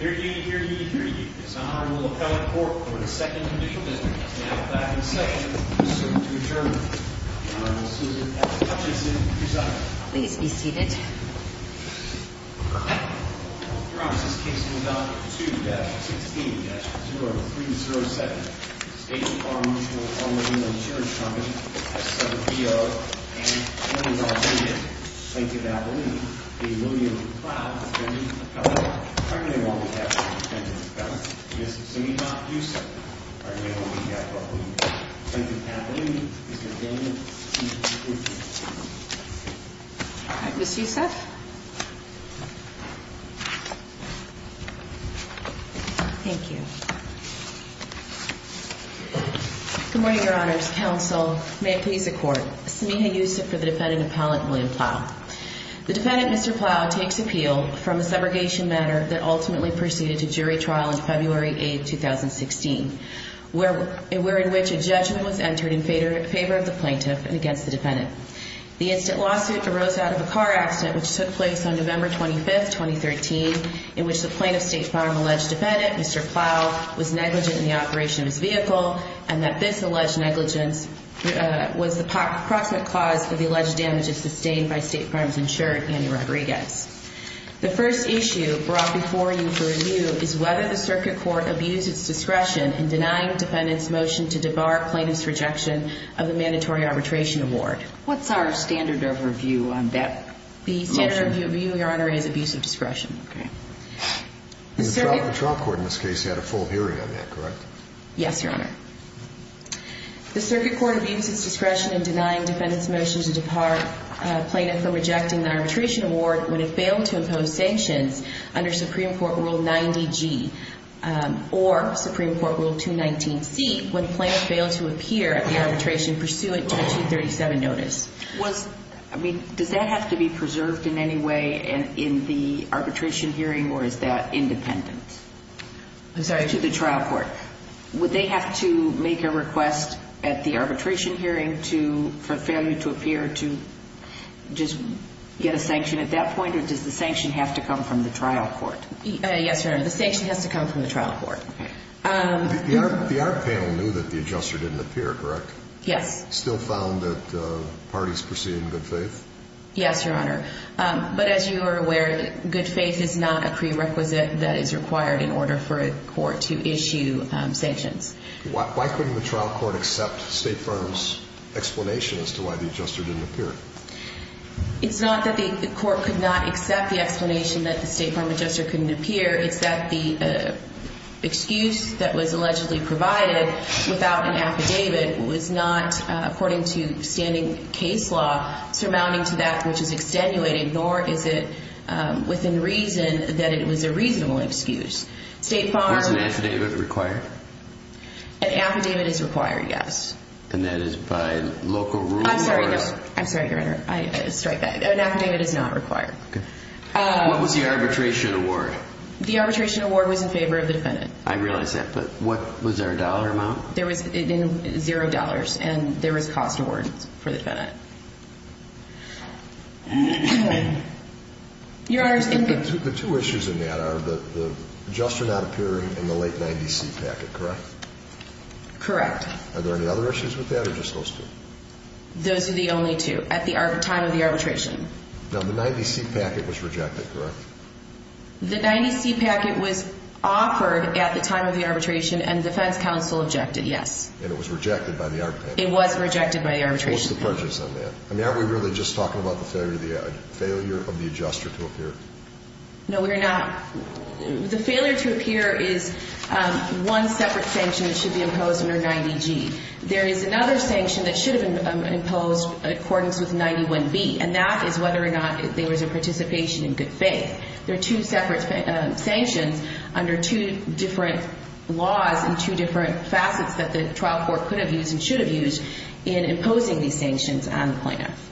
Here he, here he, here he, is Honorable Appellant Court for the second judicial visit, now back in session, pursuant to adjournment. Your Honor, Ms. Susan F. Hutchinson, presiding. Please be seated. Your Honor, this case will be dealt with 2-16-0307. State Farm Mutual Automobile Insurance Company, S-7PO, and that is all we have. Plaintiff Appellini, the employee of Plough, defendant of Appellant, currently won't be catching the defendant of Appellant. Ms. Zuniga Yousef, currently won't be catching the defendant of Appellant. Plaintiff Appellini, Mr. Daniel, please be seated. All right, Ms. Yousef. Thank you. Good morning, Your Honors. Counsel, may it please the Court. Zuniga Yousef for the defendant of Appellant, William Plough. The defendant, Mr. Plough, takes appeal from a segregation matter that ultimately proceeded to jury trial on February 8, 2016, where in which a judgment was entered in favor of the plaintiff and against the defendant. The instant lawsuit arose out of a car accident which took place on November 25, 2013, in which the plaintiff, State Farm, alleged defendant, Mr. Plough, was negligent in the operation of his vehicle, and that this alleged negligence was the proximate cause for the alleged damages sustained by State Farm's insured Annie Rodriguez. The first issue brought before you for review is whether the circuit court abused its discretion in denying the defendant's motion to debar plaintiff's rejection of the mandatory arbitration award. What's our standard of review on that motion? The standard of review, Your Honor, is abuse of discretion. Okay. The trial court in this case had a full hearing on that, correct? Yes, Your Honor. The circuit court abused its discretion in denying defendant's motion to debar plaintiff from rejecting the arbitration award when it failed to impose sanctions under Supreme Court Rule 90G or Supreme Court Rule 219C when plaintiff failed to appear at the arbitration pursuant to a 237 notice. I mean, does that have to be preserved in any way in the arbitration hearing, or is that independent? I'm sorry? To the trial court. Would they have to make a request at the arbitration hearing for failure to appear to just get a sanction at that point, or does the sanction have to come from the trial court? Yes, Your Honor. The sanction has to come from the trial court. Okay. The arbit panel knew that the adjuster didn't appear, correct? Yes. Still found that parties proceed in good faith? Yes, Your Honor. But as you are aware, good faith is not a prerequisite that is required in order for a court to issue sanctions. Why couldn't the trial court accept State Farm's explanation as to why the adjuster didn't appear? It's not that the court could not accept the explanation that the State Farm adjuster couldn't appear. It's that the excuse that was allegedly provided without an affidavit was not, according to standing case law, surmounting to that which is extenuating, nor is it within reason that it was a reasonable excuse. Was an affidavit required? An affidavit is required, yes. And that is by local rules? I'm sorry, Your Honor. An affidavit is not required. What was the arbitration award? The arbitration award was in favor of the defendant. I realize that, but was there a dollar amount? There was zero dollars, and there was a cost award for the defendant. Your Honor, the two issues in that are the adjuster not appearing in the late 90C packet, correct? Correct. Are there any other issues with that, or just those two? Those are the only two at the time of the arbitration. Now, the 90C packet was rejected, correct? The 90C packet was offered at the time of the arbitration, and defense counsel objected, yes. And it was rejected by the arbitration? It was rejected by the arbitration. What was the prejudice on that? I mean, aren't we really just talking about the failure of the adjuster to appear? No, we're not. The failure to appear is one separate sanction that should be imposed under 90G. There is another sanction that should have been imposed in accordance with 91B, and that is whether or not there was a participation in good faith. There are two separate sanctions under two different laws and two different facets that the trial court could have used and should have used in imposing these sanctions on the plaintiff.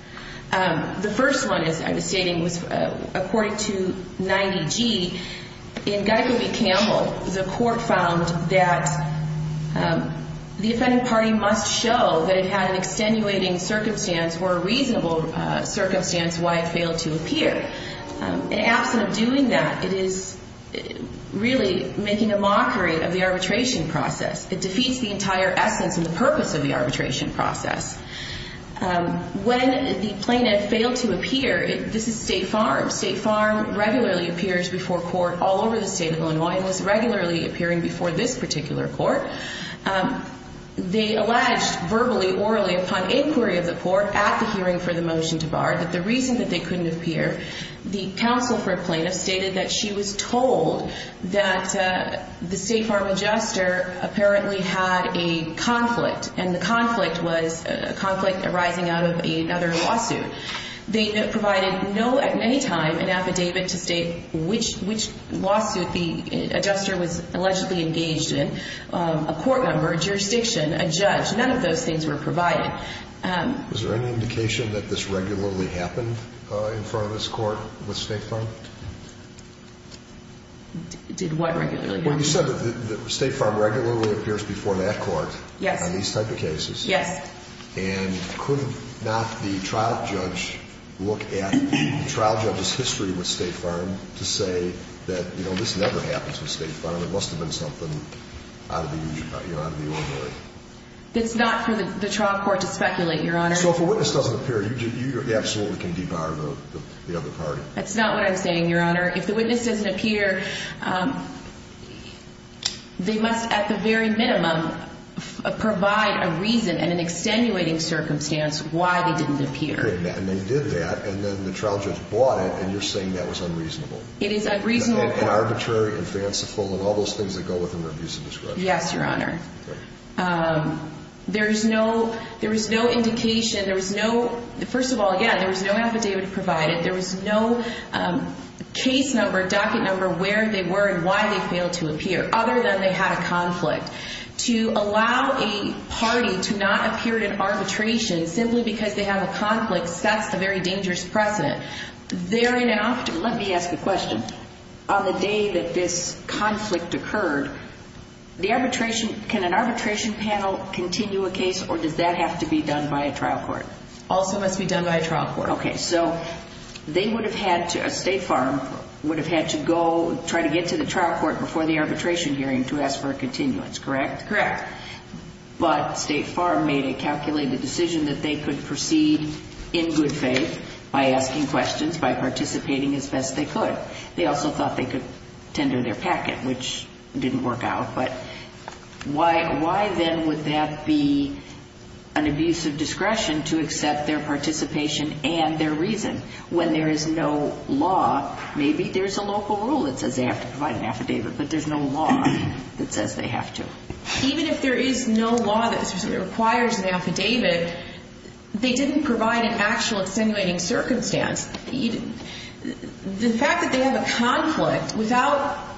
The first one, as I was stating, was according to 90G, in Guttick v. Campbell, the court found that the defendant party must show that it had an extenuating circumstance or a reasonable circumstance why it failed to appear. And absent of doing that, it is really making a mockery of the arbitration process. It defeats the entire essence and the purpose of the arbitration process. When the plaintiff failed to appear, this is State Farm. State Farm regularly appears before court all over the state of Illinois and was regularly appearing before this particular court. They alleged verbally, orally upon inquiry of the court at the hearing for the motion to bar that the reason that they couldn't appear, the counsel for a plaintiff stated that she was told that the State Farm adjuster apparently had a conflict, and the conflict was a conflict arising out of another lawsuit. They provided no, at any time, an affidavit to state which lawsuit the adjuster was allegedly engaged in. A court number, a jurisdiction, a judge, none of those things were provided. Was there any indication that this regularly happened in front of this court with State Farm? Did what regularly happen? Well, you said that State Farm regularly appears before that court on these type of cases. Yes. And could not the trial judge look at the trial judge's history with State Farm to say that, you know, this never happens with State Farm? It must have been something out of the ordinary. It's not for the trial court to speculate, Your Honor. So if a witness doesn't appear, you absolutely can depower the other party. That's not what I'm saying, Your Honor. If the witness doesn't appear, they must at the very minimum provide a reason and an extenuating circumstance why they didn't appear. And they did that, and then the trial judge bought it, and you're saying that was unreasonable. It is unreasonable. And arbitrary and fanciful and all those things that go with an abuse of discretion. Yes, Your Honor. Okay. There is no indication. There was no, first of all, yeah, there was no affidavit provided. There was no case number, docket number, where they were and why they failed to appear, other than they had a conflict. To allow a party to not appear at an arbitration simply because they have a conflict, that's a very dangerous precedent. Let me ask a question. On the day that this conflict occurred, can an arbitration panel continue a case, or does that have to be done by a trial court? Also must be done by a trial court. Okay. So they would have had to, State Farm would have had to go try to get to the trial court before the arbitration hearing to ask for a continuance, correct? Correct. But State Farm made a calculated decision that they could proceed in good faith by asking questions, by participating as best they could. They also thought they could tender their packet, which didn't work out. But why then would that be an abuse of discretion to accept their participation and their reason when there is no law? Maybe there's a local rule that says they have to provide an affidavit, but there's no law that says they have to. Even if there is no law that requires an affidavit, they didn't provide an actual extenuating circumstance. The fact that they have a conflict without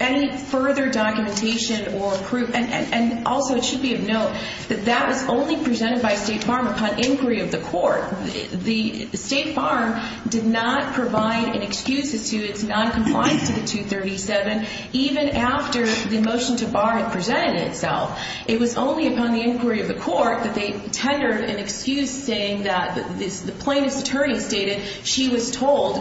any further documentation or proof, and also it should be of note that that was only presented by State Farm upon inquiry of the court. State Farm did not provide an excuse as to its noncompliance to the 237 even after the motion to bar had presented itself. It was only upon the inquiry of the court that they tendered an excuse saying that the plaintiff's attorney stated she was told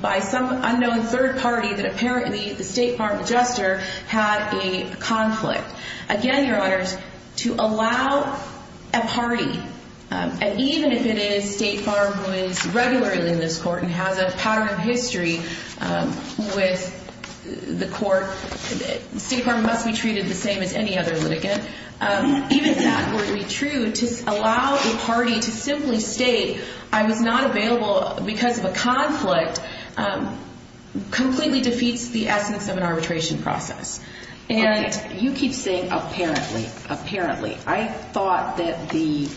by some unknown third party that apparently the State Farm adjuster had a conflict. Again, Your Honors, to allow a party, and even if it is State Farm who is regularly in this court and has a pattern of history with the court, State Farm must be treated the same as any other litigant. Even if that were to be true, to allow a party to simply state I was not available because of a conflict completely defeats the essence of an arbitration process. And you keep saying apparently. Apparently. I thought that the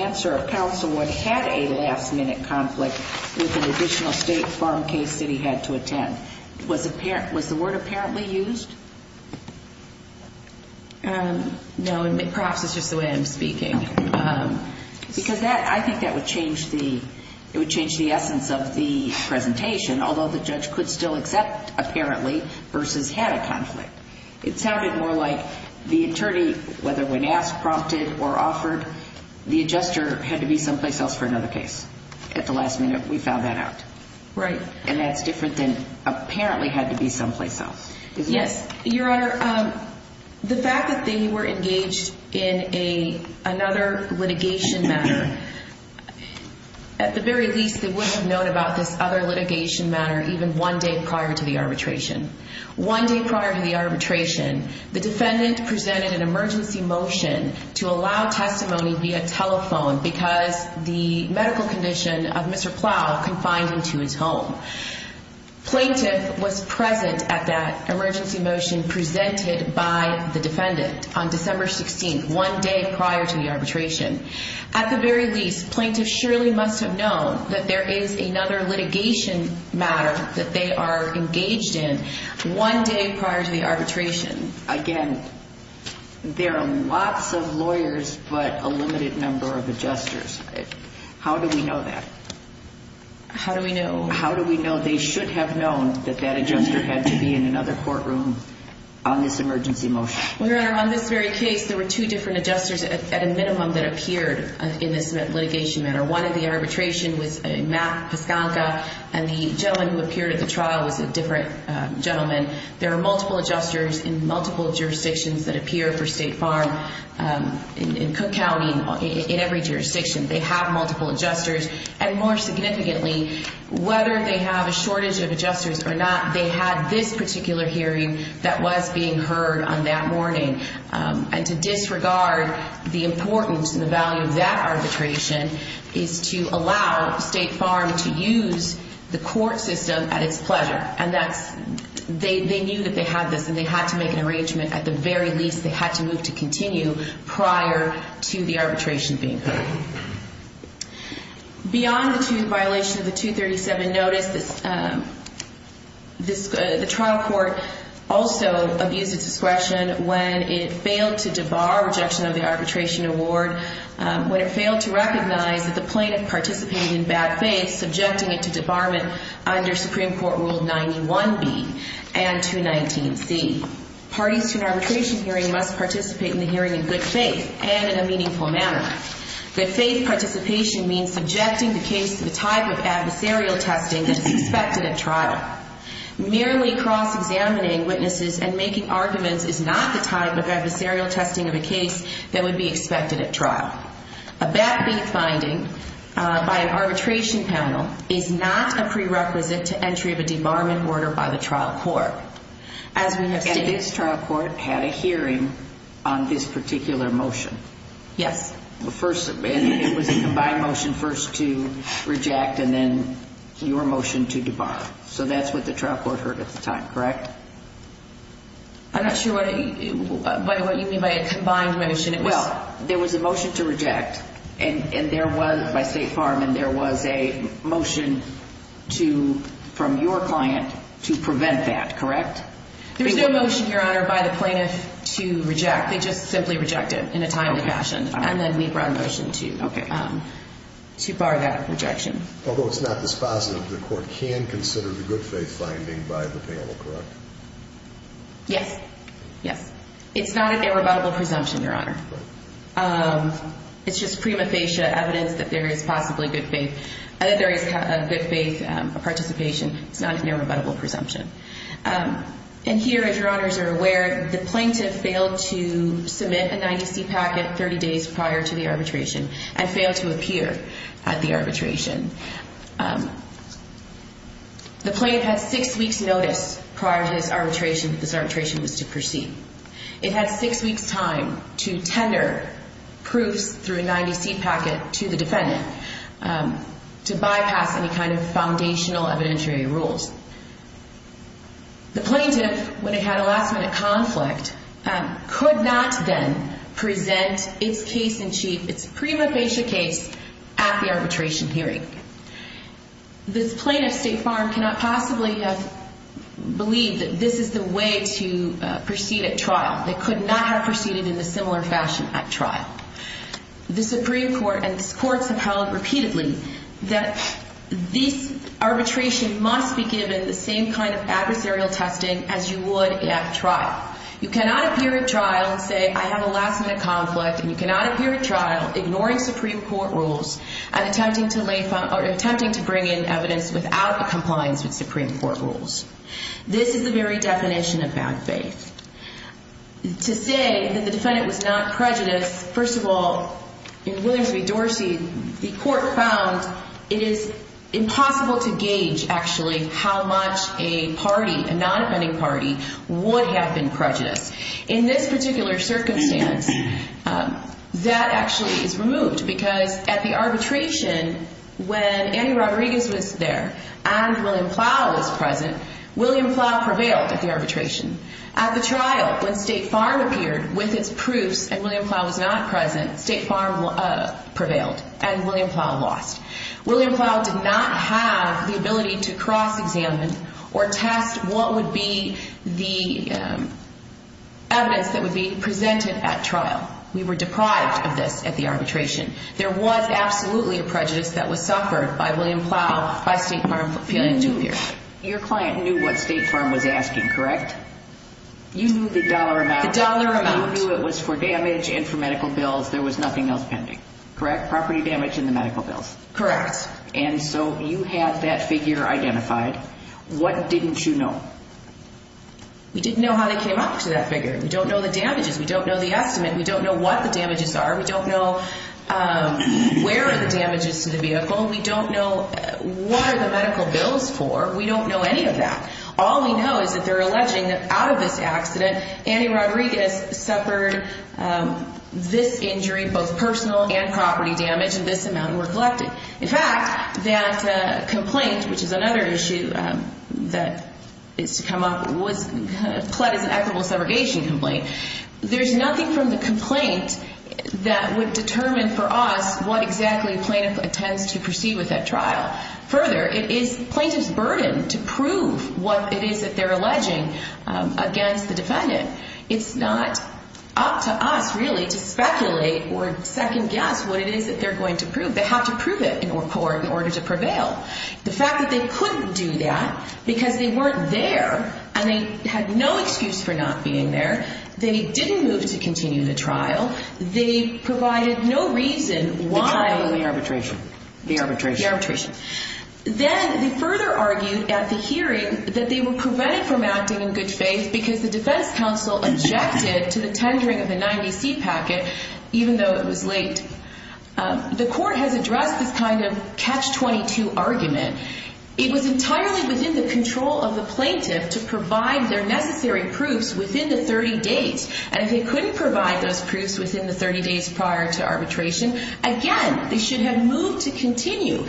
answer of counsel would have a last-minute conflict with an additional State Farm case that he had to attend. Was the word apparently used? No, perhaps it's just the way I'm speaking. Because I think that would change the essence of the presentation, although the judge could still accept apparently versus had a conflict. It sounded more like the attorney, whether when asked, prompted, or offered, the adjuster had to be someplace else for another case. At the last minute, we found that out. Right. And that's different than apparently had to be someplace else. Yes. Your Honor, the fact that they were engaged in another litigation matter, at the very least, they would have known about this other litigation matter even one day prior to the arbitration. One day prior to the arbitration, the defendant presented an emergency motion to allow testimony via telephone because the medical condition of Mr. Plow confined him to his home. Plaintiff was present at that emergency motion presented by the defendant on December 16th, one day prior to the arbitration. At the very least, plaintiff surely must have known that there is another litigation matter that they are engaged in one day prior to the arbitration. Again, there are lots of lawyers but a limited number of adjusters. How do we know that? How do we know? How do we know they should have known that that adjuster had to be in another courtroom on this emergency motion? Your Honor, on this very case, there were two different adjusters at a minimum that appeared in this litigation matter. One of the arbitration was Matt Piskanka, and the gentleman who appeared at the trial was a different gentleman. There are multiple adjusters in multiple jurisdictions that appear for State Farm in Cook County, in every jurisdiction. They have multiple adjusters. More significantly, whether they have a shortage of adjusters or not, they had this particular hearing that was being heard on that morning. To disregard the importance and the value of that arbitration is to allow State Farm to use the court system at its pleasure. They knew that they had this, and they had to make an arrangement at the very least they had to move to continue prior to the arbitration being heard. Beyond the violation of the 237 notice, the trial court also abused its discretion when it failed to debar rejection of the arbitration award, when it failed to recognize that the plaintiff participated in bad faith, subjecting it to debarment under Supreme Court Rule 91B and 219C. Parties to an arbitration hearing must participate in the hearing in good faith and in a meaningful manner. Good faith participation means subjecting the case to the type of adversarial testing that is expected at trial. Merely cross-examining witnesses and making arguments is not the type of adversarial testing of a case that would be expected at trial. A backbeat finding by an arbitration panel is not a prerequisite to entry of a debarment order by the trial court. And this trial court had a hearing on this particular motion. Yes. It was a combined motion first to reject and then your motion to debar. So that's what the trial court heard at the time, correct? I'm not sure what you mean by a combined motion. Well, there was a motion to reject by State Farm, and there was a motion from your client to prevent that, correct? There was no motion, Your Honor, by the plaintiff to reject. They just simply rejected in a timely fashion. And then we brought a motion to bar that rejection. Although it's not dispositive, the court can consider the good faith finding by the panel, correct? Yes. It's not an irrebuttable presumption, Your Honor. It's just prima facie evidence that there is possibly good faith, that there is good faith participation. It's not an irrebuttable presumption. And here, as Your Honors are aware, the plaintiff failed to submit a 90-C packet 30 days prior to the arbitration and failed to appear at the arbitration. The plaintiff had six weeks' notice prior to this arbitration that this arbitration was to proceed. It had six weeks' time to tender proofs through a 90-C packet to the defendant to bypass any kind of foundational evidentiary rules. The plaintiff, when it had a last-minute conflict, could not then present its case in chief, its prima facie case at the arbitration hearing. This plaintiff, State Farm, cannot possibly have believed that this is the way to proceed at trial. They could not have proceeded in a similar fashion at trial. The Supreme Court and courts have held repeatedly that this arbitration must be given the same kind of adversarial testing as you would at trial. You cannot appear at trial and say, I have a last-minute conflict, and you cannot appear at trial ignoring Supreme Court rules and attempting to bring in evidence without compliance with Supreme Court rules. This is the very definition of bad faith. To say that the defendant was not prejudiced, first of all, in Williams v. Dorsey, the court found it is impossible to gauge, actually, how much a party, a non-offending party, would have been prejudiced. In this particular circumstance, that actually is removed because at the arbitration, when Andy Rodriguez was there and William Plow was present, William Plow prevailed at the arbitration. At the trial, when State Farm appeared with its proofs and William Plow was not present, State Farm prevailed and William Plow lost. William Plow did not have the ability to cross-examine or test what would be the evidence that would be presented at trial. We were deprived of this at the arbitration. There was absolutely a prejudice that was suffered by William Plow, by State Farm appealing to appear. Your client knew what State Farm was asking, correct? You knew the dollar amount. The dollar amount. You knew it was for damage and for medical bills. There was nothing else pending, correct? Property damage and the medical bills. Correct. And so you have that figure identified. What didn't you know? We didn't know how they came up to that figure. We don't know the damages. We don't know the estimate. We don't know what the damages are. We don't know where are the damages to the vehicle. We don't know what are the medical bills for. We don't know any of that. All we know is that they're alleging that out of this accident, Annie Rodriguez suffered this injury, both personal and property damage, and this amount were collected. In fact, that complaint, which is another issue that is to come up, was pled as an equitable subrogation complaint. There's nothing from the complaint that would determine for us what exactly a plaintiff intends to proceed with that trial. Further, it is the plaintiff's burden to prove what it is that they're alleging against the defendant. It's not up to us really to speculate or second guess what it is that they're going to prove. They have to prove it in court in order to prevail. The fact that they couldn't do that because they weren't there and they had no excuse for not being there. They didn't move to continue the trial. They provided no reason why. The trial or the arbitration? The arbitration. The arbitration. Then they further argued at the hearing that they were prevented from acting in good faith because the defense counsel objected to the tendering of the 90C packet, even though it was late. The court has addressed this kind of catch-22 argument. It was entirely within the control of the plaintiff to provide their necessary proofs within the 30 days. And if they couldn't provide those proofs within the 30 days prior to arbitration, again, they should have moved to continue.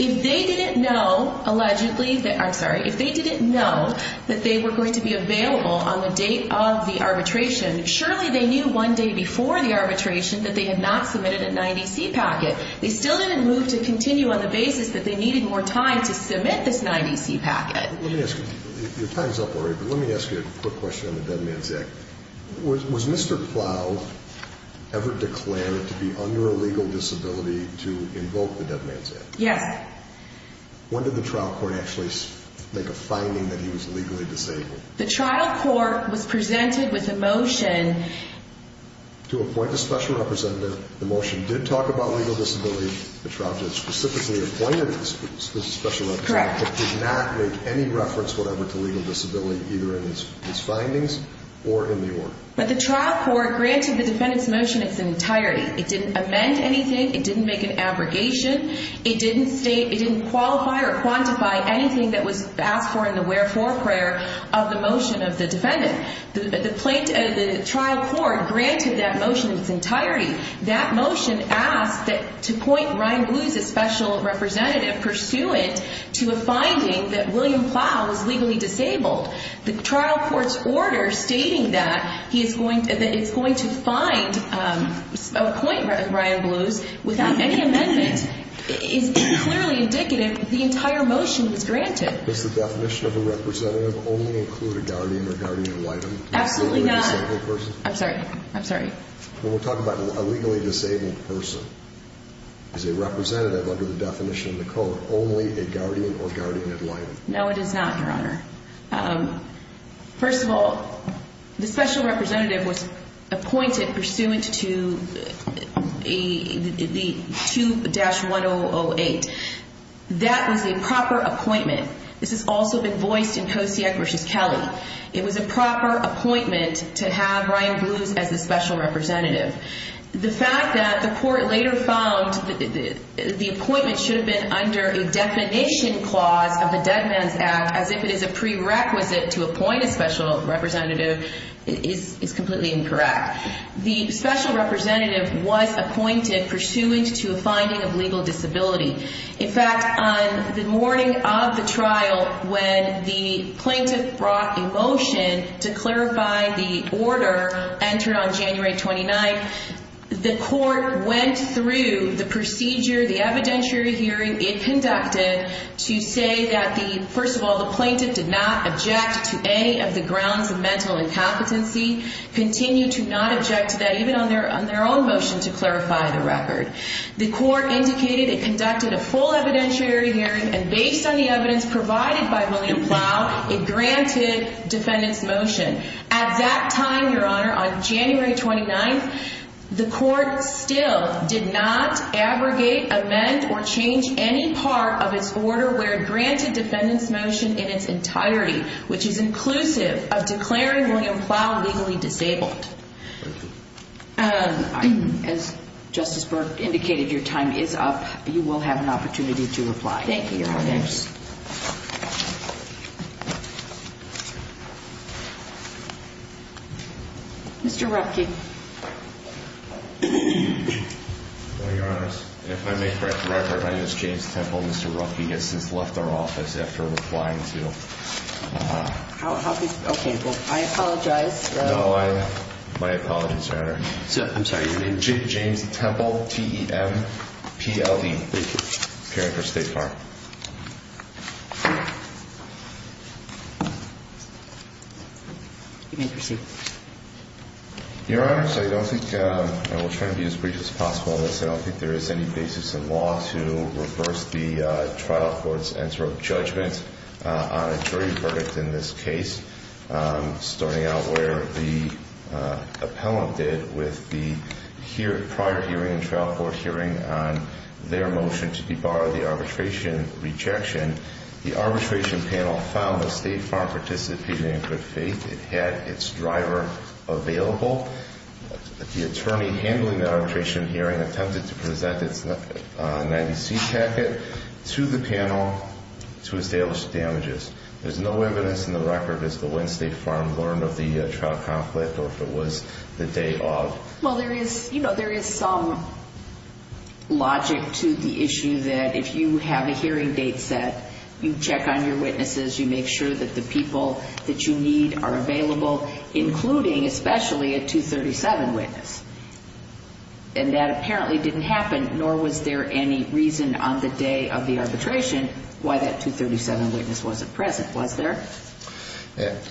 If they didn't know, allegedly, I'm sorry, if they didn't know that they were going to be available on the date of the arbitration, surely they knew one day before the arbitration that they had not submitted a 90C packet. They still didn't move to continue on the basis that they needed more time to submit this 90C packet. Let me ask you, your time's up already, but let me ask you a quick question on the Dead Man's Act. Was Mr. Plow ever declared to be under a legal disability to invoke the Dead Man's Act? Yes. When did the trial court actually make a finding that he was legally disabled? The trial court was presented with a motion. To appoint a special representative. The motion did talk about legal disability. The trial judge specifically appointed this special representative. Correct. But did not make any reference whatever to legal disability either in his findings or in the order. But the trial court granted the defendant's motion its entirety. It didn't amend anything. It didn't make an abrogation. It didn't qualify or quantify anything that was asked for in the wherefore prayer of the motion of the defendant. The trial court granted that motion its entirety. That motion asked to appoint Ryan Blues a special representative pursuant to a finding that William Plow was legally disabled. The trial court's order stating that it's going to appoint Ryan Blues without any amendment is clearly indicative that the entire motion was granted. Does the definition of a representative only include a guardian or guardian enlightened? Absolutely not. A legally disabled person? I'm sorry. I'm sorry. When we're talking about a legally disabled person, is a representative under the definition of the code only a guardian or guardian enlightened? No, it is not, Your Honor. First of all, the special representative was appointed pursuant to 2-1008. That was a proper appointment. This has also been voiced in Kosiak v. Kelly. It was a proper appointment to have Ryan Blues as a special representative. The fact that the court later found that the appointment should have been under a definition clause of the Dead Man's Act as if it is a prerequisite to appoint a special representative is completely incorrect. The special representative was appointed pursuant to a finding of legal disability. In fact, on the morning of the trial when the plaintiff brought a motion to clarify the order entered on January 29th, the court went through the procedure, the evidentiary hearing it conducted to say that, first of all, the plaintiff did not object to any of the grounds of mental incompetency, continue to not object to that, even on their own motion to clarify the record. The court indicated it conducted a full evidentiary hearing, and based on the evidence provided by William Plow, it granted defendant's motion. At that time, Your Honor, on January 29th, the court still did not abrogate, amend, or change any part of its order where it granted defendant's motion in its entirety, which is inclusive of declaring William Plow legally disabled. Thank you. As Justice Burke indicated, your time is up. You will have an opportunity to reply. Thank you, Your Honor. Thank you. Mr. Ruffke. Your Honor, if I may correct the record, my name is James Temple. Mr. Ruffke has since left our office after replying to. Okay. I apologize. No, my apologies, Your Honor. I'm sorry. Your name? James Temple, T-E-M-P-L-E. Thank you. Appearant for State Farm. You may proceed. Your Honor, I will try to be as brief as possible on this. I don't think there is any basis in law to reverse the trial court's answer of judgment on a jury verdict in this case, starting out where the appellant did with the prior hearing and trial court hearing on their motion to debar the arbitration rejection. The arbitration panel found that State Farm participated in good faith. It had its driver available. The attorney handling that arbitration hearing attempted to present its 90-seat packet to the panel to establish damages. There's no evidence in the record as to when State Farm learned of the trial conflict or if it was the day of. Well, there is some logic to the issue that if you have a hearing date set, you check on your witnesses. You make sure that the people that you need are available, including especially a 237 witness. And that apparently didn't happen, nor was there any reason on the day of the arbitration why that 237 witness wasn't present, was there?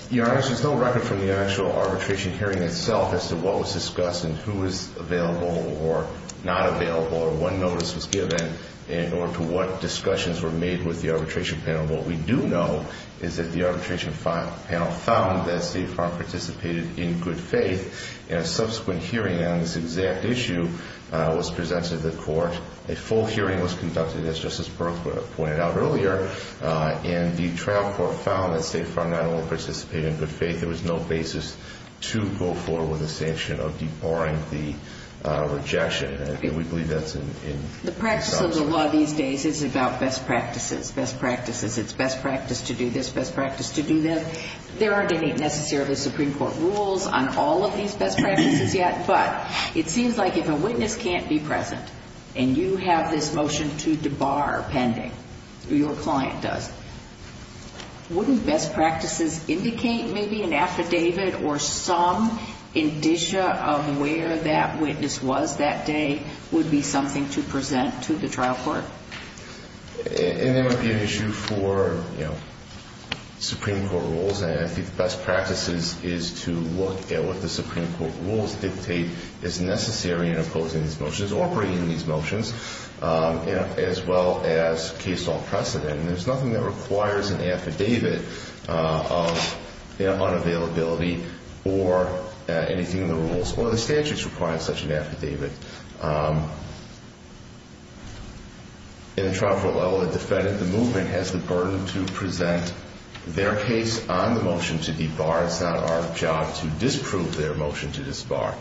Your Honor, there's no record from the actual arbitration hearing itself as to what was discussed and who was available or not available or what notice was given in order to what discussions were made with the arbitration panel. What we do know is that the arbitration panel found that State Farm participated in good faith. And a subsequent hearing on this exact issue was presented to the court. A full hearing was conducted, as Justice Berkwood pointed out earlier. And the trial court found that State Farm not only participated in good faith, there was no basis to go forward with a sanction of debarring the rejection. And we believe that's in the trial court. The practice of the law these days is about best practices, best practices. It's best practice to do this, best practice to do that. There aren't any necessarily Supreme Court rules on all of these best practices yet. But it seems like if a witness can't be present, and you have this motion to debar pending, or your client does, wouldn't best practices indicate maybe an affidavit or some indicia of where that witness was that day would be something to present to the trial court? And that would be an issue for, you know, Supreme Court rules. And I think the best practices is to look at what the Supreme Court rules dictate is necessary in opposing these motions or bringing these motions, as well as case law precedent. And there's nothing that requires an affidavit of unavailability or anything in the rules. Or the statutes require such an affidavit. In the trial court level, the defendant, the movement, has the burden to present their case on the motion to debar. It's not our job to disprove their motion to disbar.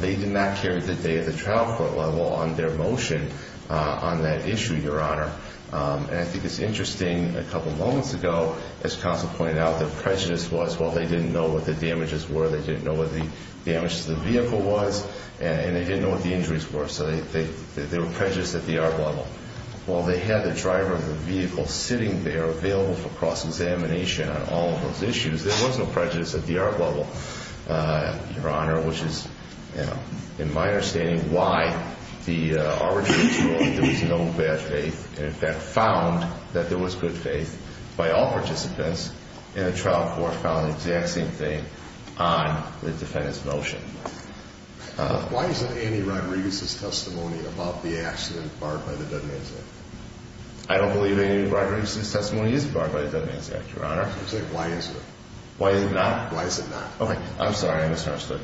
They did not carry the day at the trial court level on their motion on that issue, Your Honor. And I think it's interesting, a couple moments ago, as Counsel pointed out, the prejudice was, well, they didn't know what the damages were, they didn't know what the damage to the vehicle was, and they didn't know what the injuries were. So they were prejudiced at the art level. While they had the driver of the vehicle sitting there available for cross-examination on all of those issues, there was no prejudice at the art level, Your Honor, which is, in my understanding, why the arbitrary jury, there was no bad faith and, in fact, found that there was good faith by all participants, and the trial court found the exact same thing on the defendant's motion. Why isn't Annie Rodriguez's testimony about the accident barred by the Dead Man's Act? I don't believe Annie Rodriguez's testimony is barred by the Dead Man's Act, Your Honor. Why is it? Why is it not? Why is it not? Okay, I'm sorry. I misunderstood.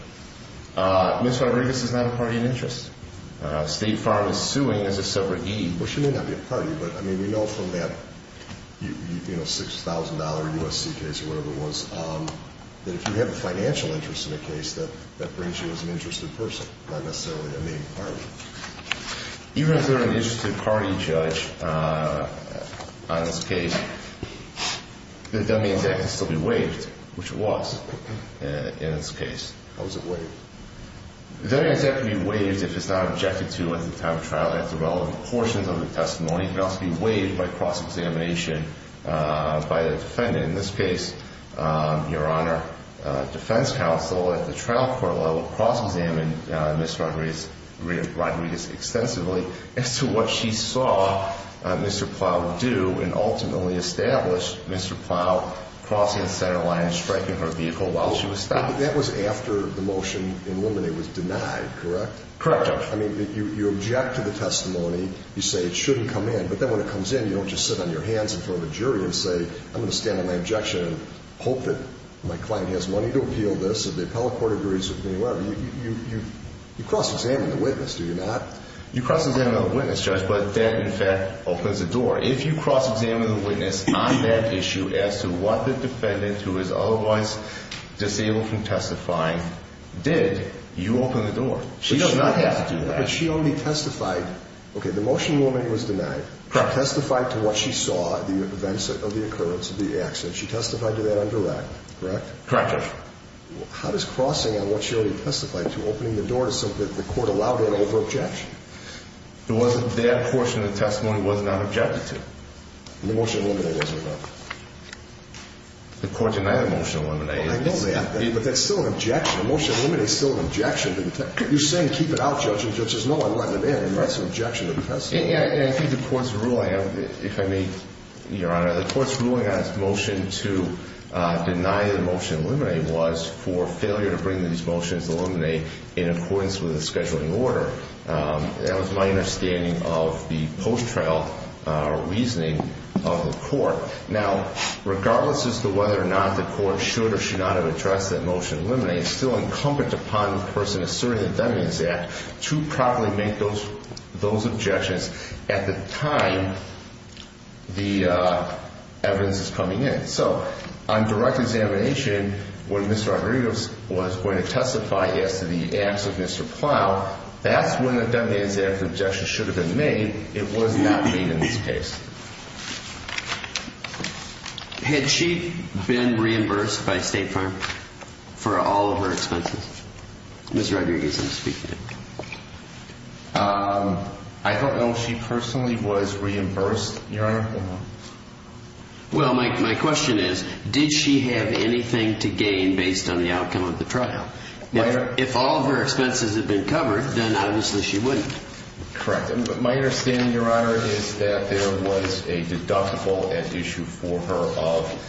Ms. Rodriguez is not a party in interest. State Farm is suing as a separate deed. Well, she may not be a party, but, I mean, we know from that $6,000 U.S.C. case or whatever it was, that if you have a financial interest in a case, that brings you as an interested person, not necessarily a main party. Even if they're an interested party, Judge, on this case, the Dead Man's Act can still be waived, which it was in this case. How is it waived? The Dead Man's Act can be waived if it's not objected to at the time of trial after relevant portions of the testimony. In this case, Your Honor, defense counsel at the trial court level cross-examined Ms. Rodriguez extensively as to what she saw Mr. Plow do and ultimately established Mr. Plow crossing the center line and striking her vehicle while she was stopped. That was after the motion in limine was denied, correct? Correct, Judge. I mean, you object to the testimony. You say it shouldn't come in, but then when it comes in, you don't just sit on your hands in front of a jury and say, I'm going to stand on my objection and hope that my client has money to appeal this or the appellate court agrees with me, whatever. You cross-examine the witness, do you not? You cross-examine the witness, Judge, but that, in fact, opens the door. If you cross-examine the witness on that issue as to what the defendant, who is otherwise disabled from testifying, did, you open the door. She does not have to do that. But she only testified. Okay, the motion in limine was denied. Testified to what she saw, the events of the occurrence of the accident. She testified to that on direct, correct? Correct, Judge. How does crossing on what she already testified to opening the door to something that the court allowed in over objection? That portion of the testimony was not objected to. The motion in limine was or not? The court denied the motion in limine. I know that, but that's still an objection. The motion in limine is still an objection to the testimony. You're saying keep it out, Judge, and the judge says, no, I'm letting it in. That's an objection to the testimony. I think the court's ruling, if I may, Your Honor, the court's ruling on its motion to deny the motion in limine was for failure to bring these motions to limine in accordance with the scheduling order. That was my understanding of the post-trial reasoning of the court. Now, regardless as to whether or not the court should or should not have addressed that motion in limine, it's still incumbent upon the person asserting the Defendant's Act to properly make those objections at the time the evidence is coming in. So on direct examination, when Ms. Rodriguez was going to testify as to the acts of Mr. Plow, that's when the defendant's objection should have been made. It was not made in this case. Had she been reimbursed by State Farm for all of her expenses? Ms. Rodriguez, I'm speaking. I don't know if she personally was reimbursed, Your Honor. Well, my question is, did she have anything to gain based on the outcome of the trial? If all of her expenses had been covered, then obviously she wouldn't. Correct. My understanding, Your Honor, is that there was a deductible at issue for her of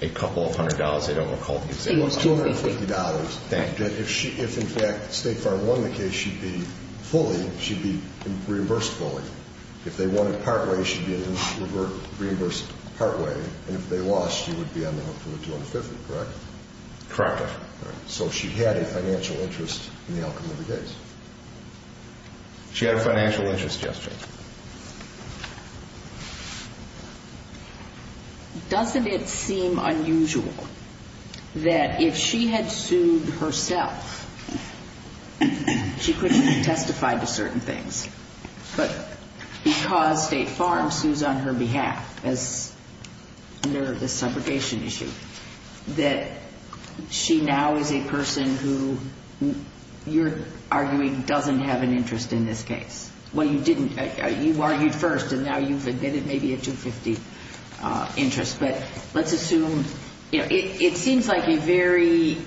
a couple of hundred dollars. It was $250. If, in fact, State Farm won the case, she'd be fully, she'd be reimbursed fully. If they won it partway, she'd be reimbursed partway. And if they lost, she would be on the hook for $250, correct? Correct, Your Honor. So she had a financial interest in the outcome of the case. She had a financial interest, yes, Judge. Doesn't it seem unusual that if she had sued herself, she couldn't have testified to certain things, but because State Farm sues on her behalf as under the separation issue, that she now is a person who you're arguing doesn't have an interest in this case? Well, you didn't. You argued first, and now you've admitted maybe a $250 interest. But let's assume, you know, it seems like a very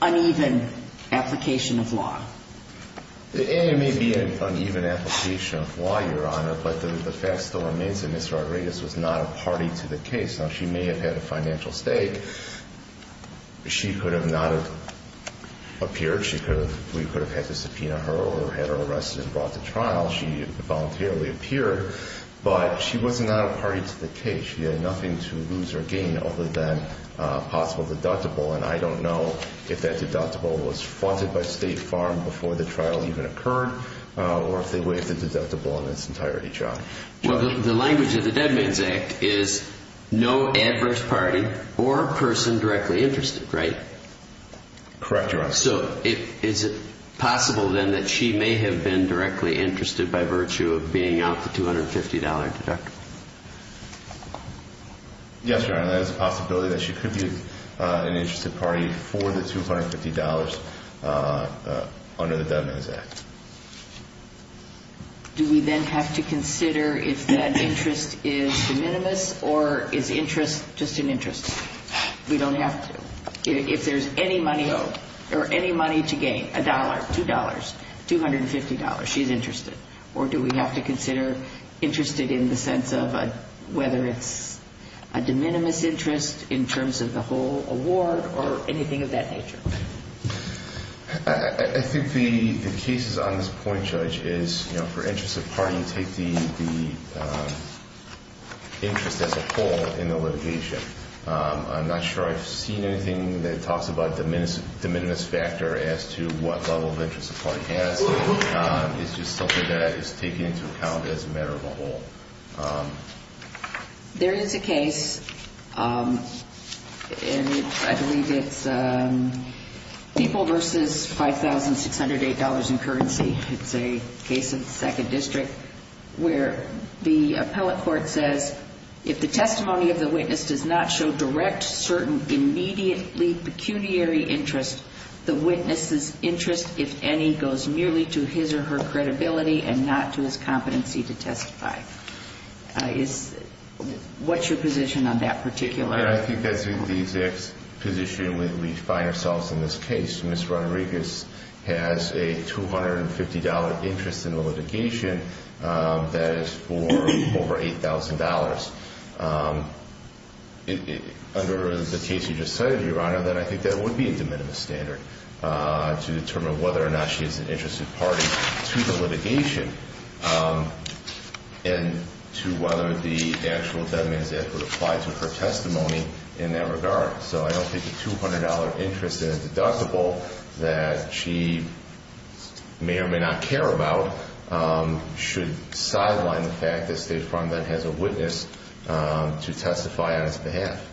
uneven application of law. It may be an uneven application of law, Your Honor, but the fact still remains that Ms. Rodriguez was not a party to the case. Now, she may have had a financial stake. She could have not have appeared. We could have had to subpoena her or had her arrested and brought to trial. She voluntarily appeared, but she was not a party to the case. She had nothing to lose or gain other than a possible deductible, and I don't know if that deductible was funded by State Farm before the trial even occurred or if they waived the deductible in its entirety, Judge. Well, the language of the Dead Man's Act is no adverse party or person directly interested, right? Correct, Your Honor. So is it possible, then, that she may have been directly interested by virtue of being out the $250 deductible? Yes, Your Honor, that is a possibility that she could be an interested party for the $250 under the Dead Man's Act. Do we then have to consider if that interest is de minimis or is interest just an interest? We don't have to. If there's any money owed or any money to gain, $1, $2, $250, she's interested. Or do we have to consider interest in the sense of whether it's a de minimis interest in terms of the whole award or anything of that nature? I think the case on this point, Judge, is for interest of party, you take the interest as a whole in the litigation. I'm not sure I've seen anything that talks about de minimis factor as to what level of interest a party has. It's just something that is taken into account as a matter of a whole. There is a case, and I believe it's People v. $5,608 in Currency. It's a case in the 2nd District where the appellate court says, if the testimony of the witness does not show direct, certain, immediately pecuniary interest, the witness's interest, if any, goes merely to his or her credibility and not to his competency to testify. What's your position on that particular? I think that's the exact position we find ourselves in this case. Ms. Rodriguez has a $250 interest in the litigation that is for over $8,000. Under the case you just cited, Your Honor, then I think that would be a de minimis standard to determine whether or not she is an interested party to the litigation and to whether the actual de minimis effort applied to her testimony in that regard. So I don't think the $200 interest in a deductible that she may or may not care about should sideline the fact that State Farm then has a witness to testify on its behalf.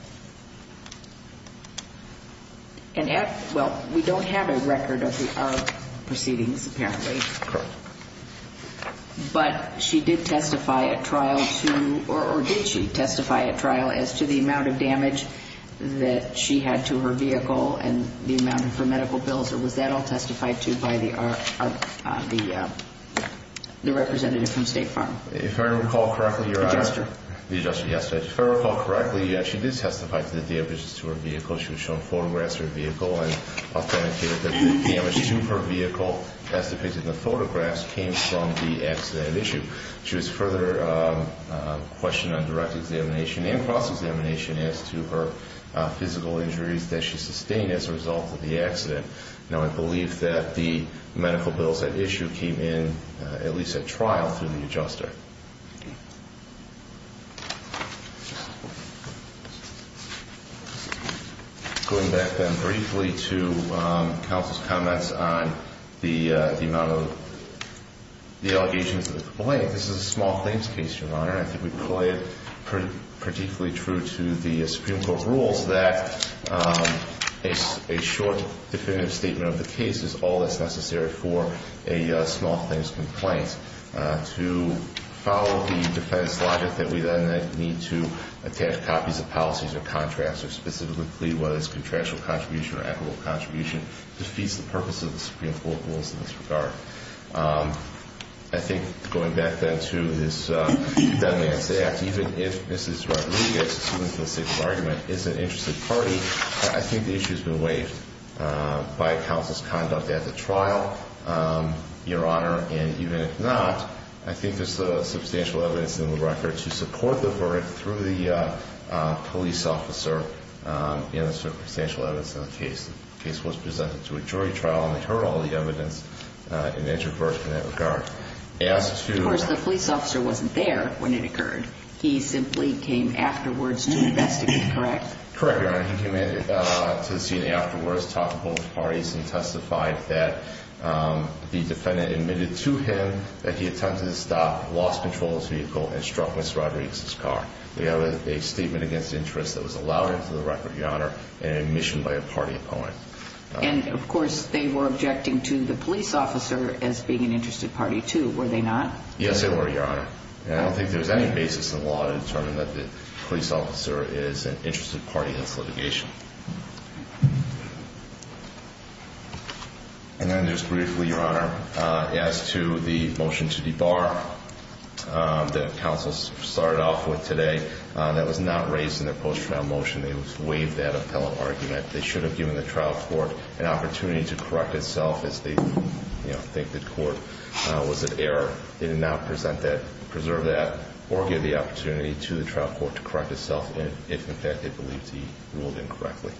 Well, we don't have a record of the ARP proceedings, apparently. Correct. But she did testify at trial to, or did she testify at trial, as to the amount of damage that she had to her vehicle and the amount of her medical bills, or was that all testified to by the representative from State Farm? If I recall correctly, Your Honor. The adjuster. The adjuster, yes. If I recall correctly, yes, she did testify to the damages to her vehicle. She was shown photographs of her vehicle and authenticated that the damage to her vehicle, as depicted in the photographs, came from the accident at issue. She was further questioned on direct examination and cross-examination as to her physical injuries that she sustained as a result of the accident. Now, I believe that the medical bills at issue came in at least at trial through the adjuster. Going back then briefly to counsel's comments on the amount of the allegations of the complaint, Your Honor, I think we play it particularly true to the Supreme Court rules that a short definitive statement of the case is all that's necessary for a small-things complaint. To follow the defense logic that we then need to attach copies of policies or contracts or specifically what is contractual contribution or equitable contribution defeats the purpose of the Supreme Court rules in this regard. I think going back then to this Dumb Man's Act, even if Mrs. Rodriguez, who is in the state of argument, is an interested party, I think the issue has been waived by counsel's conduct at the trial, Your Honor. And even if not, I think there's substantial evidence in the record to support the verdict through the police officer and there's substantial evidence in the case. The case was presented to a jury trial and they heard all the evidence. It entered first in that regard. Of course, the police officer wasn't there when it occurred. He simply came afterwards to investigate, correct? Correct, Your Honor. He came in to the scene afterwards, talked to both parties, and testified that the defendant admitted to him that he attempted to stop, lost control of the vehicle, and struck Mrs. Rodriguez's car. We have a statement against interest that was allowed into the record, Your Honor, and admission by a party opponent. And, of course, they were objecting to the police officer as being an interested party too, were they not? Yes, they were, Your Honor. And I don't think there's any basis in the law to determine that the police officer is an interested party in this litigation. And then just briefly, Your Honor, as to the motion to debar that counsel started off with today, that was not raised in their post-trial motion. They waived that appellate argument. They should have given the trial court an opportunity to correct itself as they think the court was at error. They did not present that, preserve that, or give the opportunity to the trial court to correct itself if, in fact, they believed he ruled incorrectly.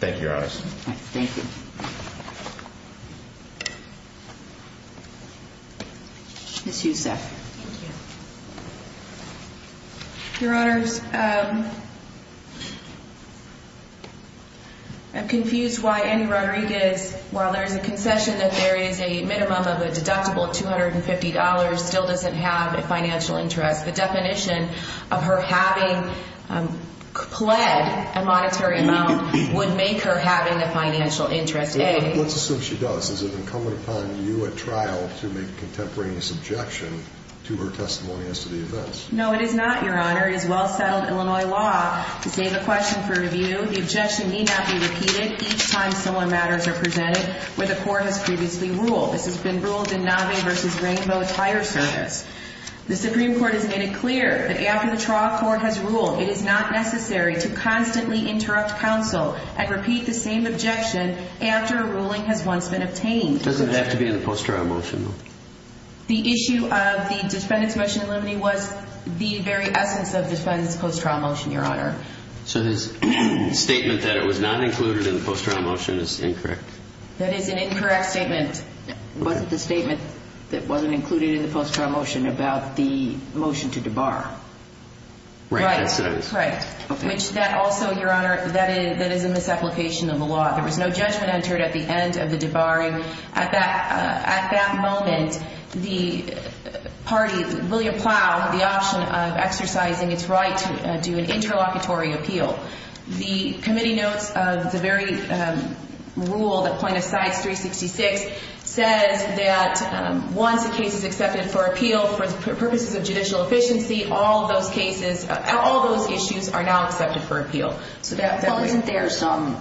Thank you, Your Honors. Thank you. Ms. Youssef. Thank you. Your Honors, I'm confused why Annie Rodriguez, while there is a concession that there is a minimum of a deductible of $250, still doesn't have a financial interest. The definition of her having pled a monetary amount would make her having a financial interest, A. Let's assume she does. Is it incumbent upon you at trial to make a contemporaneous objection to her testimony as to the events? No, it is not, Your Honor. It is well-settled Illinois law. To save a question for review, the objection need not be repeated each time similar matters are presented where the court has previously ruled. This has been ruled in Navi v. Rainbow Tire Service. The Supreme Court has made it clear that after the trial court has ruled, it is not necessary to constantly interrupt counsel and repeat the same objection after a ruling has once been obtained. It doesn't have to be in the post-trial motion, though. The issue of the defendant's motion in limine was the very essence of the defendant's post-trial motion, Your Honor. So his statement that it was not included in the post-trial motion is incorrect? That is an incorrect statement. It wasn't the statement that wasn't included in the post-trial motion about the motion to debar. Right. Right. Which that also, Your Honor, that is a misapplication of the law. There was no judgment entered at the end of the debarring. At that moment, the party, William Plow, had the option of exercising its right to do an interlocutory appeal. The committee notes the very rule, the point of size 366, says that once a case is accepted for appeal for purposes of judicial efficiency, all those cases, all those issues are now accepted for appeal. Well, isn't there some,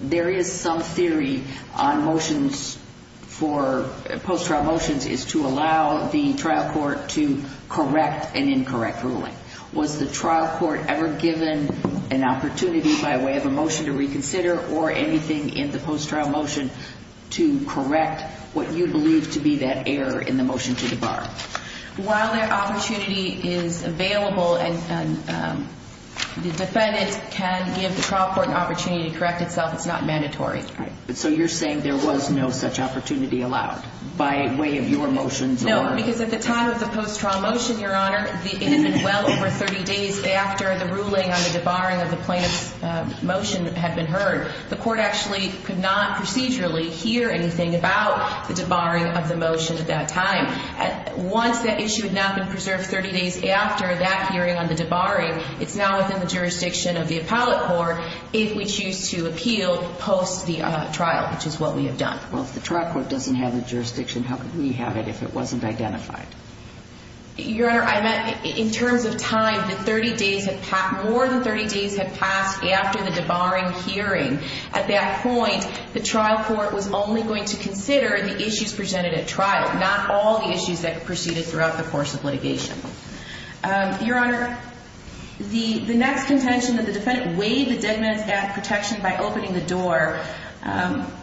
there is some theory on motions for, post-trial motions, is to allow the trial court to correct an incorrect ruling. Was the trial court ever given an opportunity by way of a motion to reconsider or anything in the post-trial motion to correct what you believe to be that error in the motion to debar? While the opportunity is available and the defendant can give the trial court an opportunity to correct itself, it's not mandatory. Right. So you're saying there was no such opportunity allowed by way of your motions or? No, because at the time of the post-trial motion, Your Honor, it had been well over 30 days after the ruling on the debarring of the plaintiff's motion had been heard. The court actually could not procedurally hear anything about the debarring of the motion at that time. Once that issue had not been preserved 30 days after that hearing on the debarring, it's now within the jurisdiction of the appellate court if we choose to appeal post-trial, which is what we have done. Well, if the trial court doesn't have the jurisdiction, how could we have it if it wasn't identified? Your Honor, I meant in terms of time, the 30 days had passed, more than 30 days had passed after the debarring hearing. At that point, the trial court was only going to consider the issues presented at trial, not all the issues that proceeded throughout the course of litigation. Your Honor, the next contention that the defendant weighed the Dead Man's Act protection by opening the door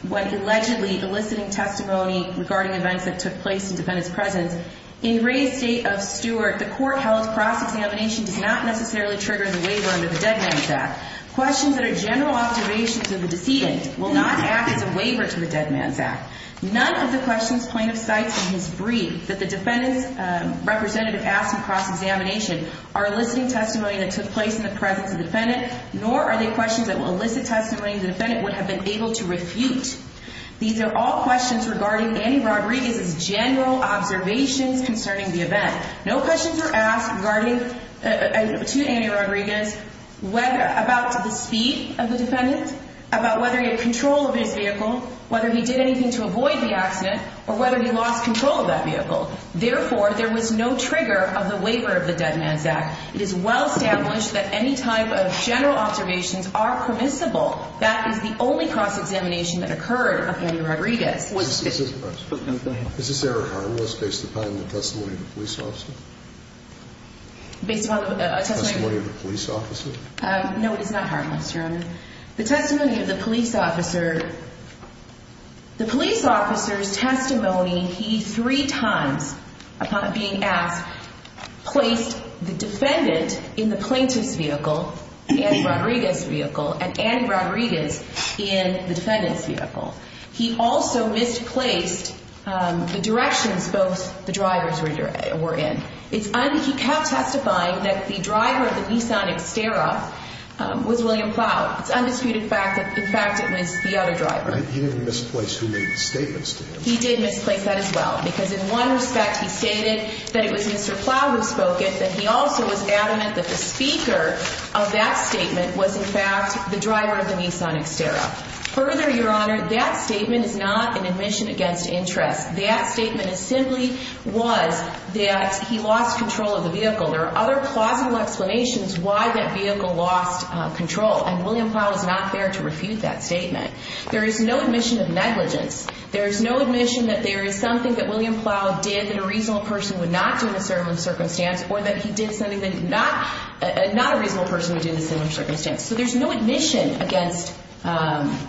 when allegedly eliciting testimony regarding events that took place in the defendant's presence, in Ray's state of Stewart, the court held cross-examination does not necessarily trigger the waiver under the Dead Man's Act. Questions that are general observations of the decedent will not act as a waiver to the Dead Man's Act. None of the questions plaintiff cites in his brief that the defendant's representative asked in cross-examination are eliciting testimony that took place in the presence of the defendant, nor are they questions that will elicit testimony the defendant would have been able to refute. These are all questions regarding Andy Rodriguez's general observations concerning the event. No questions were asked to Andy Rodriguez about the speed of the defendant, about whether he had control of his vehicle, whether he did anything to avoid the accident, or whether he lost control of that vehicle. Therefore, there was no trigger of the waiver of the Dead Man's Act. It is well established that any type of general observations are permissible. That is the only cross-examination that occurred of Andy Rodriguez. Is this error harmless based upon the testimony of the police officer? Based upon the testimony of the police officer? No, it is not harmless, Your Honor. The testimony of the police officer, the police officer's testimony, he three times, upon being asked, placed the defendant in the plaintiff's vehicle, Andy Rodriguez's vehicle, and Andy Rodriguez in the defendant's vehicle. He also misplaced the directions both the drivers were in. He kept testifying that the driver of the Nissan Xterra was William Plow. It's undisputed fact that, in fact, it was the other driver. He didn't misplace who made the statements to him. He did misplace that as well, because in one respect he stated that it was Mr. Plow who spoke it, but he also was adamant that the speaker of that statement was, in fact, the driver of the Nissan Xterra. Further, Your Honor, that statement is not an admission against interest. That statement simply was that he lost control of the vehicle. There are other plausible explanations why that vehicle lost control, and William Plow is not there to refute that statement. There is no admission of negligence. There is no admission that there is something that William Plow did that a reasonable person would not do in a certain circumstance or that he did something that not a reasonable person would do in a certain circumstance. So there's no admission against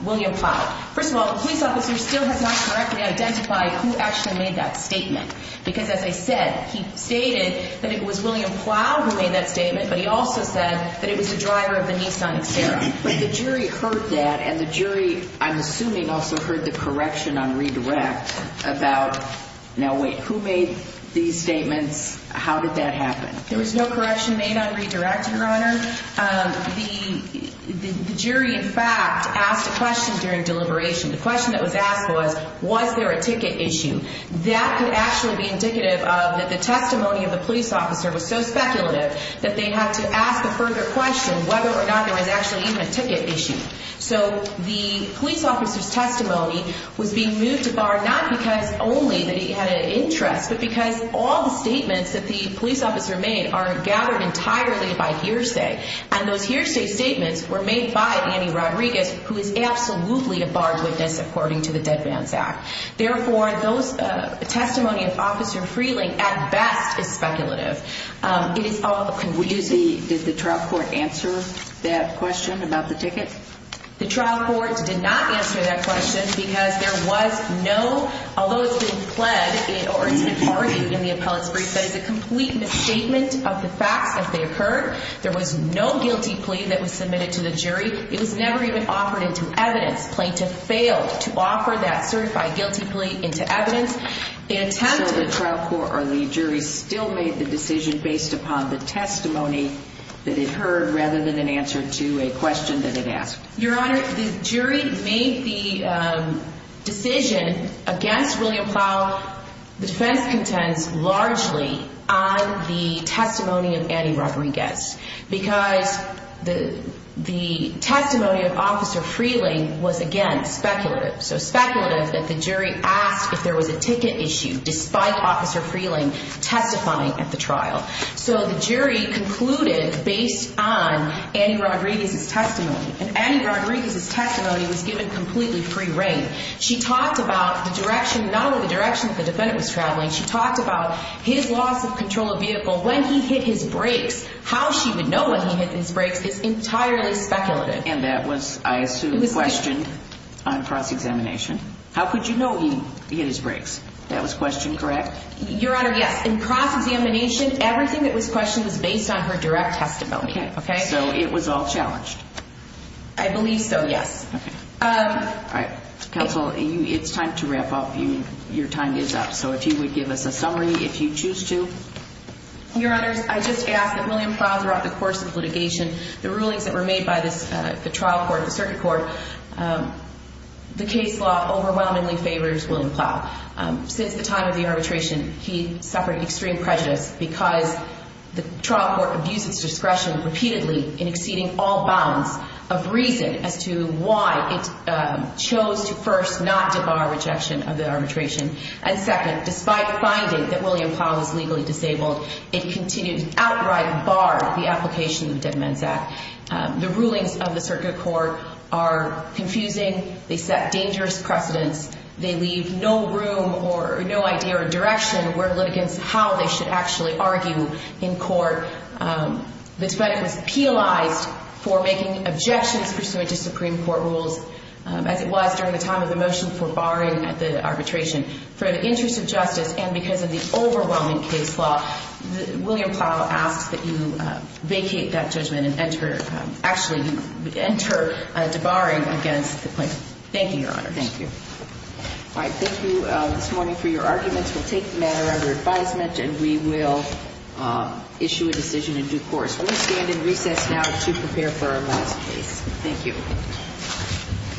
William Plow. First of all, the police officer still has not correctly identified who actually made that statement, because, as I said, he stated that it was William Plow who made that statement, but he also said that it was the driver of the Nissan Xterra. But the jury heard that, and the jury, I'm assuming, also heard the correction on redirect about, now wait, who made these statements? How did that happen? There was no correction made on redirect, Your Honor. The jury, in fact, asked a question during deliberation. The question that was asked was, was there a ticket issue? That could actually be indicative of that the testimony of the police officer was so speculative that they had to ask a further question whether or not there was actually even a ticket issue. So the police officer's testimony was being moved to bar not because only that he had an interest, but because all the statements that the police officer made are gathered entirely by hearsay, and those hearsay statements were made by Annie Rodriguez, who is absolutely a barred witness according to the Dead Bans Act. Therefore, those testimony of Officer Freeling, at best, is speculative. It is all confusing. Did the trial court answer that question about the ticket? The trial court did not answer that question because there was no, although it's been pled or it's been argued in the appellate's brief, that it's a complete misstatement of the facts as they occurred. There was no guilty plea that was submitted to the jury. It was never even offered into evidence. Plaintiff failed to offer that certified guilty plea into evidence. It attempted. So the trial court or the jury still made the decision based upon the testimony that it heard rather than an answer to a question that it asked? Your Honor, the jury made the decision against William Plow, the defense contends, largely on the testimony of Annie Rodriguez because the testimony of Officer Freeling was, again, speculative. So speculative that the jury asked if there was a ticket issue despite Officer Freeling testifying at the trial. So the jury concluded based on Annie Rodriguez's testimony. And Annie Rodriguez's testimony was given completely free rein. She talked about the direction, not only the direction that the defendant was traveling, she talked about his loss of control of vehicle when he hit his brakes. How she would know when he hit his brakes is entirely speculative. And that was, I assume, questioned on cross-examination. How could you know he hit his brakes? That was questioned, correct? Your Honor, yes. In cross-examination, everything that was questioned was based on her direct testimony. Okay. So it was all challenged. I believe so, yes. Okay. All right. Counsel, it's time to wrap up. Your time is up. So if you would give us a summary, if you choose to. Your Honors, I just ask that William Plow throughout the course of litigation, the rulings that were made by the trial court, the circuit court, the case law overwhelmingly favors William Plow. Since the time of the arbitration, he suffered extreme prejudice because the trial court abused its discretion repeatedly in exceeding all bounds of reason as to why it chose to first not debar rejection of the arbitration. And second, despite finding that William Plow was legally disabled, it continued to outright bar the application of the Dead Men's Act. The rulings of the circuit court are confusing. They set dangerous precedents. They leave no room or no idea or direction where litigants how they should actually argue in court. The defendant was penalized for making objections pursuant to Supreme Court rules, as it was during the time of the motion for barring the arbitration. For the interest of justice and because of the overwhelming case law, William Plow asks that you vacate that judgment and enter debarring against the plaintiff. Thank you, Your Honors. Thank you. All right. Thank you this morning for your arguments. We'll take the matter under advisement and we will issue a decision in due course. We will stand in recess now to prepare for our last case. Thank you.